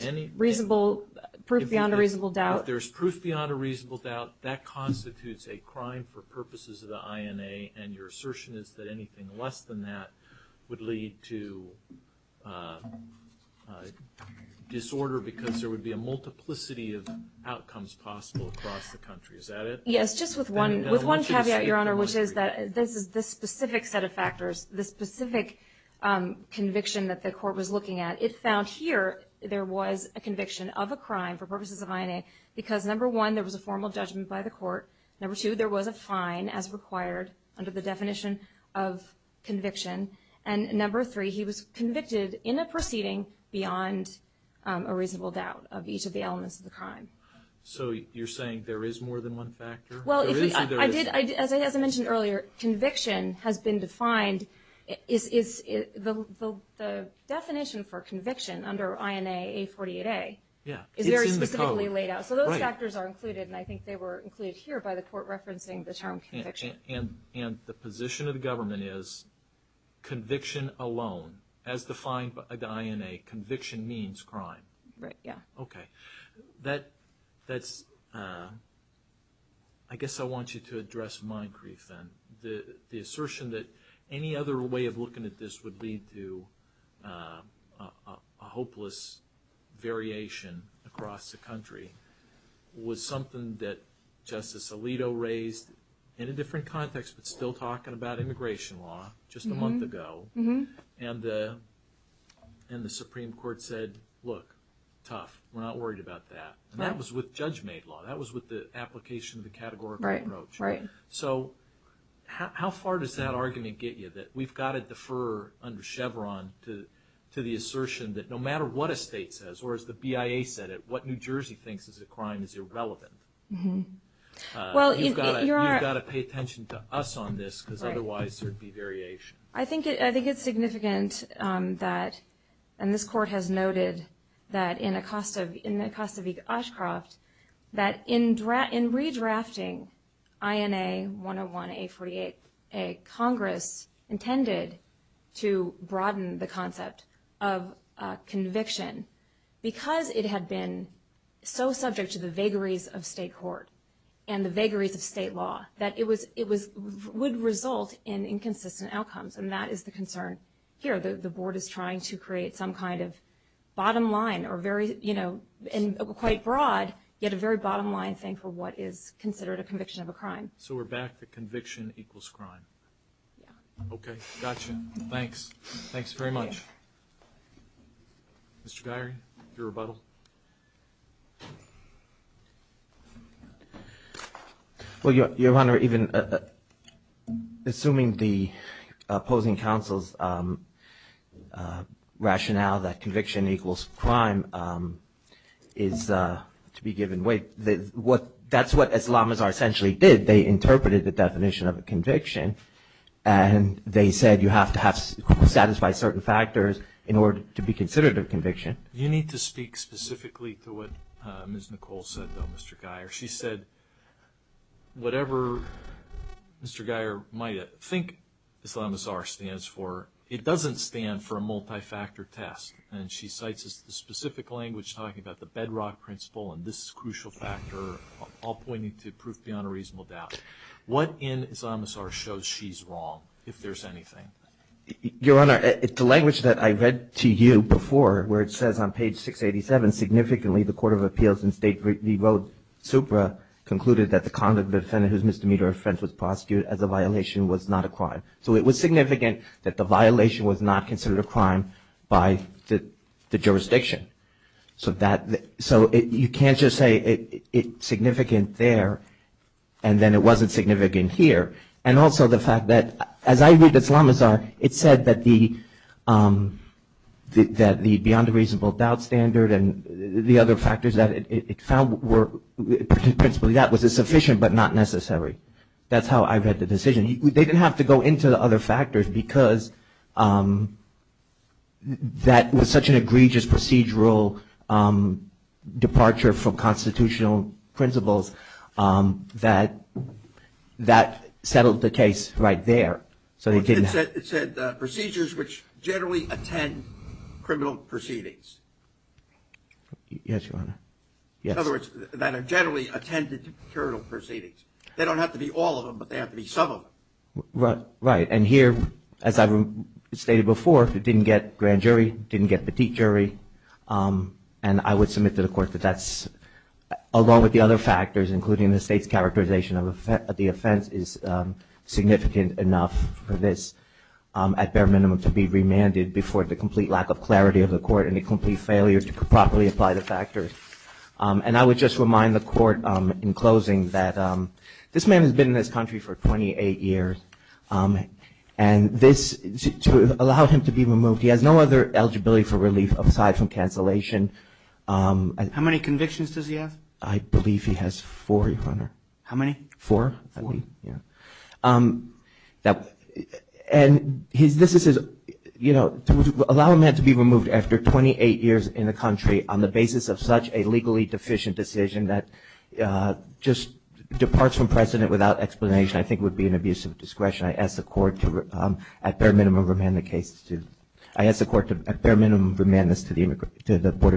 any reasonable proof beyond a reasonable doubt there's proof beyond a reasonable doubt that constitutes a crime for purposes of the INA and your assertion is that anything less than that would lead to disorder because there would be a multiplicity of outcomes possible across the country is that it yes just with one with one caveat your honor which is that this is this specific set of factors the specific conviction that the court was looking at it found here there was a conviction of a crime for purposes of INA because number one there was a formal judgment by the court number two there was a fine as required under the definition of conviction and number three he was convicted in a proceeding beyond a reasonable doubt of each of the elements of the crime so you're saying there is more than one factor well as I mentioned earlier conviction has been defined is is it the definition for conviction under INA a 48a yeah is very specifically laid out so those factors are included and I think they were included here by the court referencing the term conviction and and the position of the government is conviction alone as defined by the INA conviction means crime right yeah okay that that's I guess I want you to the assertion that any other way of looking at this would lead to a hopeless variation across the country was something that justice Alito raised in a different context but still talking about immigration law just a month ago mm-hmm and and the Supreme Court said look tough we're not worried about that and that was with judge made law that was with the application of the right right so how far does that argument get you that we've got a defer under Chevron to to the assertion that no matter what a state says or as the BIA said it what New Jersey thinks is a crime is irrelevant mm-hmm well you're gonna pay attention to us on this because otherwise there'd be variation I think it I think it's significant that and this court has noted that in a cost of in the cost of each Ashcroft that in draft in redrafting INA 101 a 48 a Congress intended to broaden the concept of conviction because it had been so subject to the vagaries of state court and the vagaries of state law that it was it was would result in inconsistent outcomes and that is the concern here the board is trying to create some kind of bottom line or very you know in quite broad yet a very bottom line thing for what is considered a conviction of a crime so we're back the conviction equals crime okay gotcha thanks thanks very much mr. diary your rebuttal well your honor even assuming the opposing counsel's rationale that conviction equals crime is to be given weight that what that's what Islam is our essentially did they interpreted the definition of a conviction and they said you have to have satisfy certain factors in order to be considered a conviction you need to speak specifically to what mr. Geier she said whatever mr. Geier might think Islam is our stands for it doesn't stand for a multi-factor test and she cites as the specific language talking about the bedrock principle and this crucial factor all pointing to proof beyond a reasonable doubt what in Islam is our shows she's wrong if there's anything your honor it's a language that I read to you before where it says on page 687 significantly the Court of Appeals and state we wrote supra concluded that the conduct defendant whose misdemeanor offense was prosecuted as a violation was not a crime so it was significant that the violation was not considered a crime by the jurisdiction so that so it you can't just say it significant there and then it wasn't significant here and also the and the other factors that it found were principally that was a sufficient but not necessary that's how I read the decision they didn't have to go into the other factors because that was such an egregious procedural departure from constitutional principles that that settled the case right there so they yes your honor yes other words that are generally attended to procuratorial proceedings they don't have to be all of them but they have to be some of them right right and here as I stated before it didn't get grand jury didn't get petite jury and I would submit to the court that that's along with the other factors including the state's characterization of the offense is significant enough for this at bare minimum to be remanded before the failure to properly apply the factors and I would just remind the court in closing that this man has been in this country for 28 years and this to allow him to be removed he has no other eligibility for relief aside from cancellation and how many convictions does he have I believe he has four hundred how many four yeah that and his this is you know allow him had to be years in the country on the basis of such a legally deficient decision that just departs from precedent without explanation I think would be an abuse of discretion I asked the court to at bare minimum remain the case to I asked the court to bare minimum remand this to the immigrant to the Board of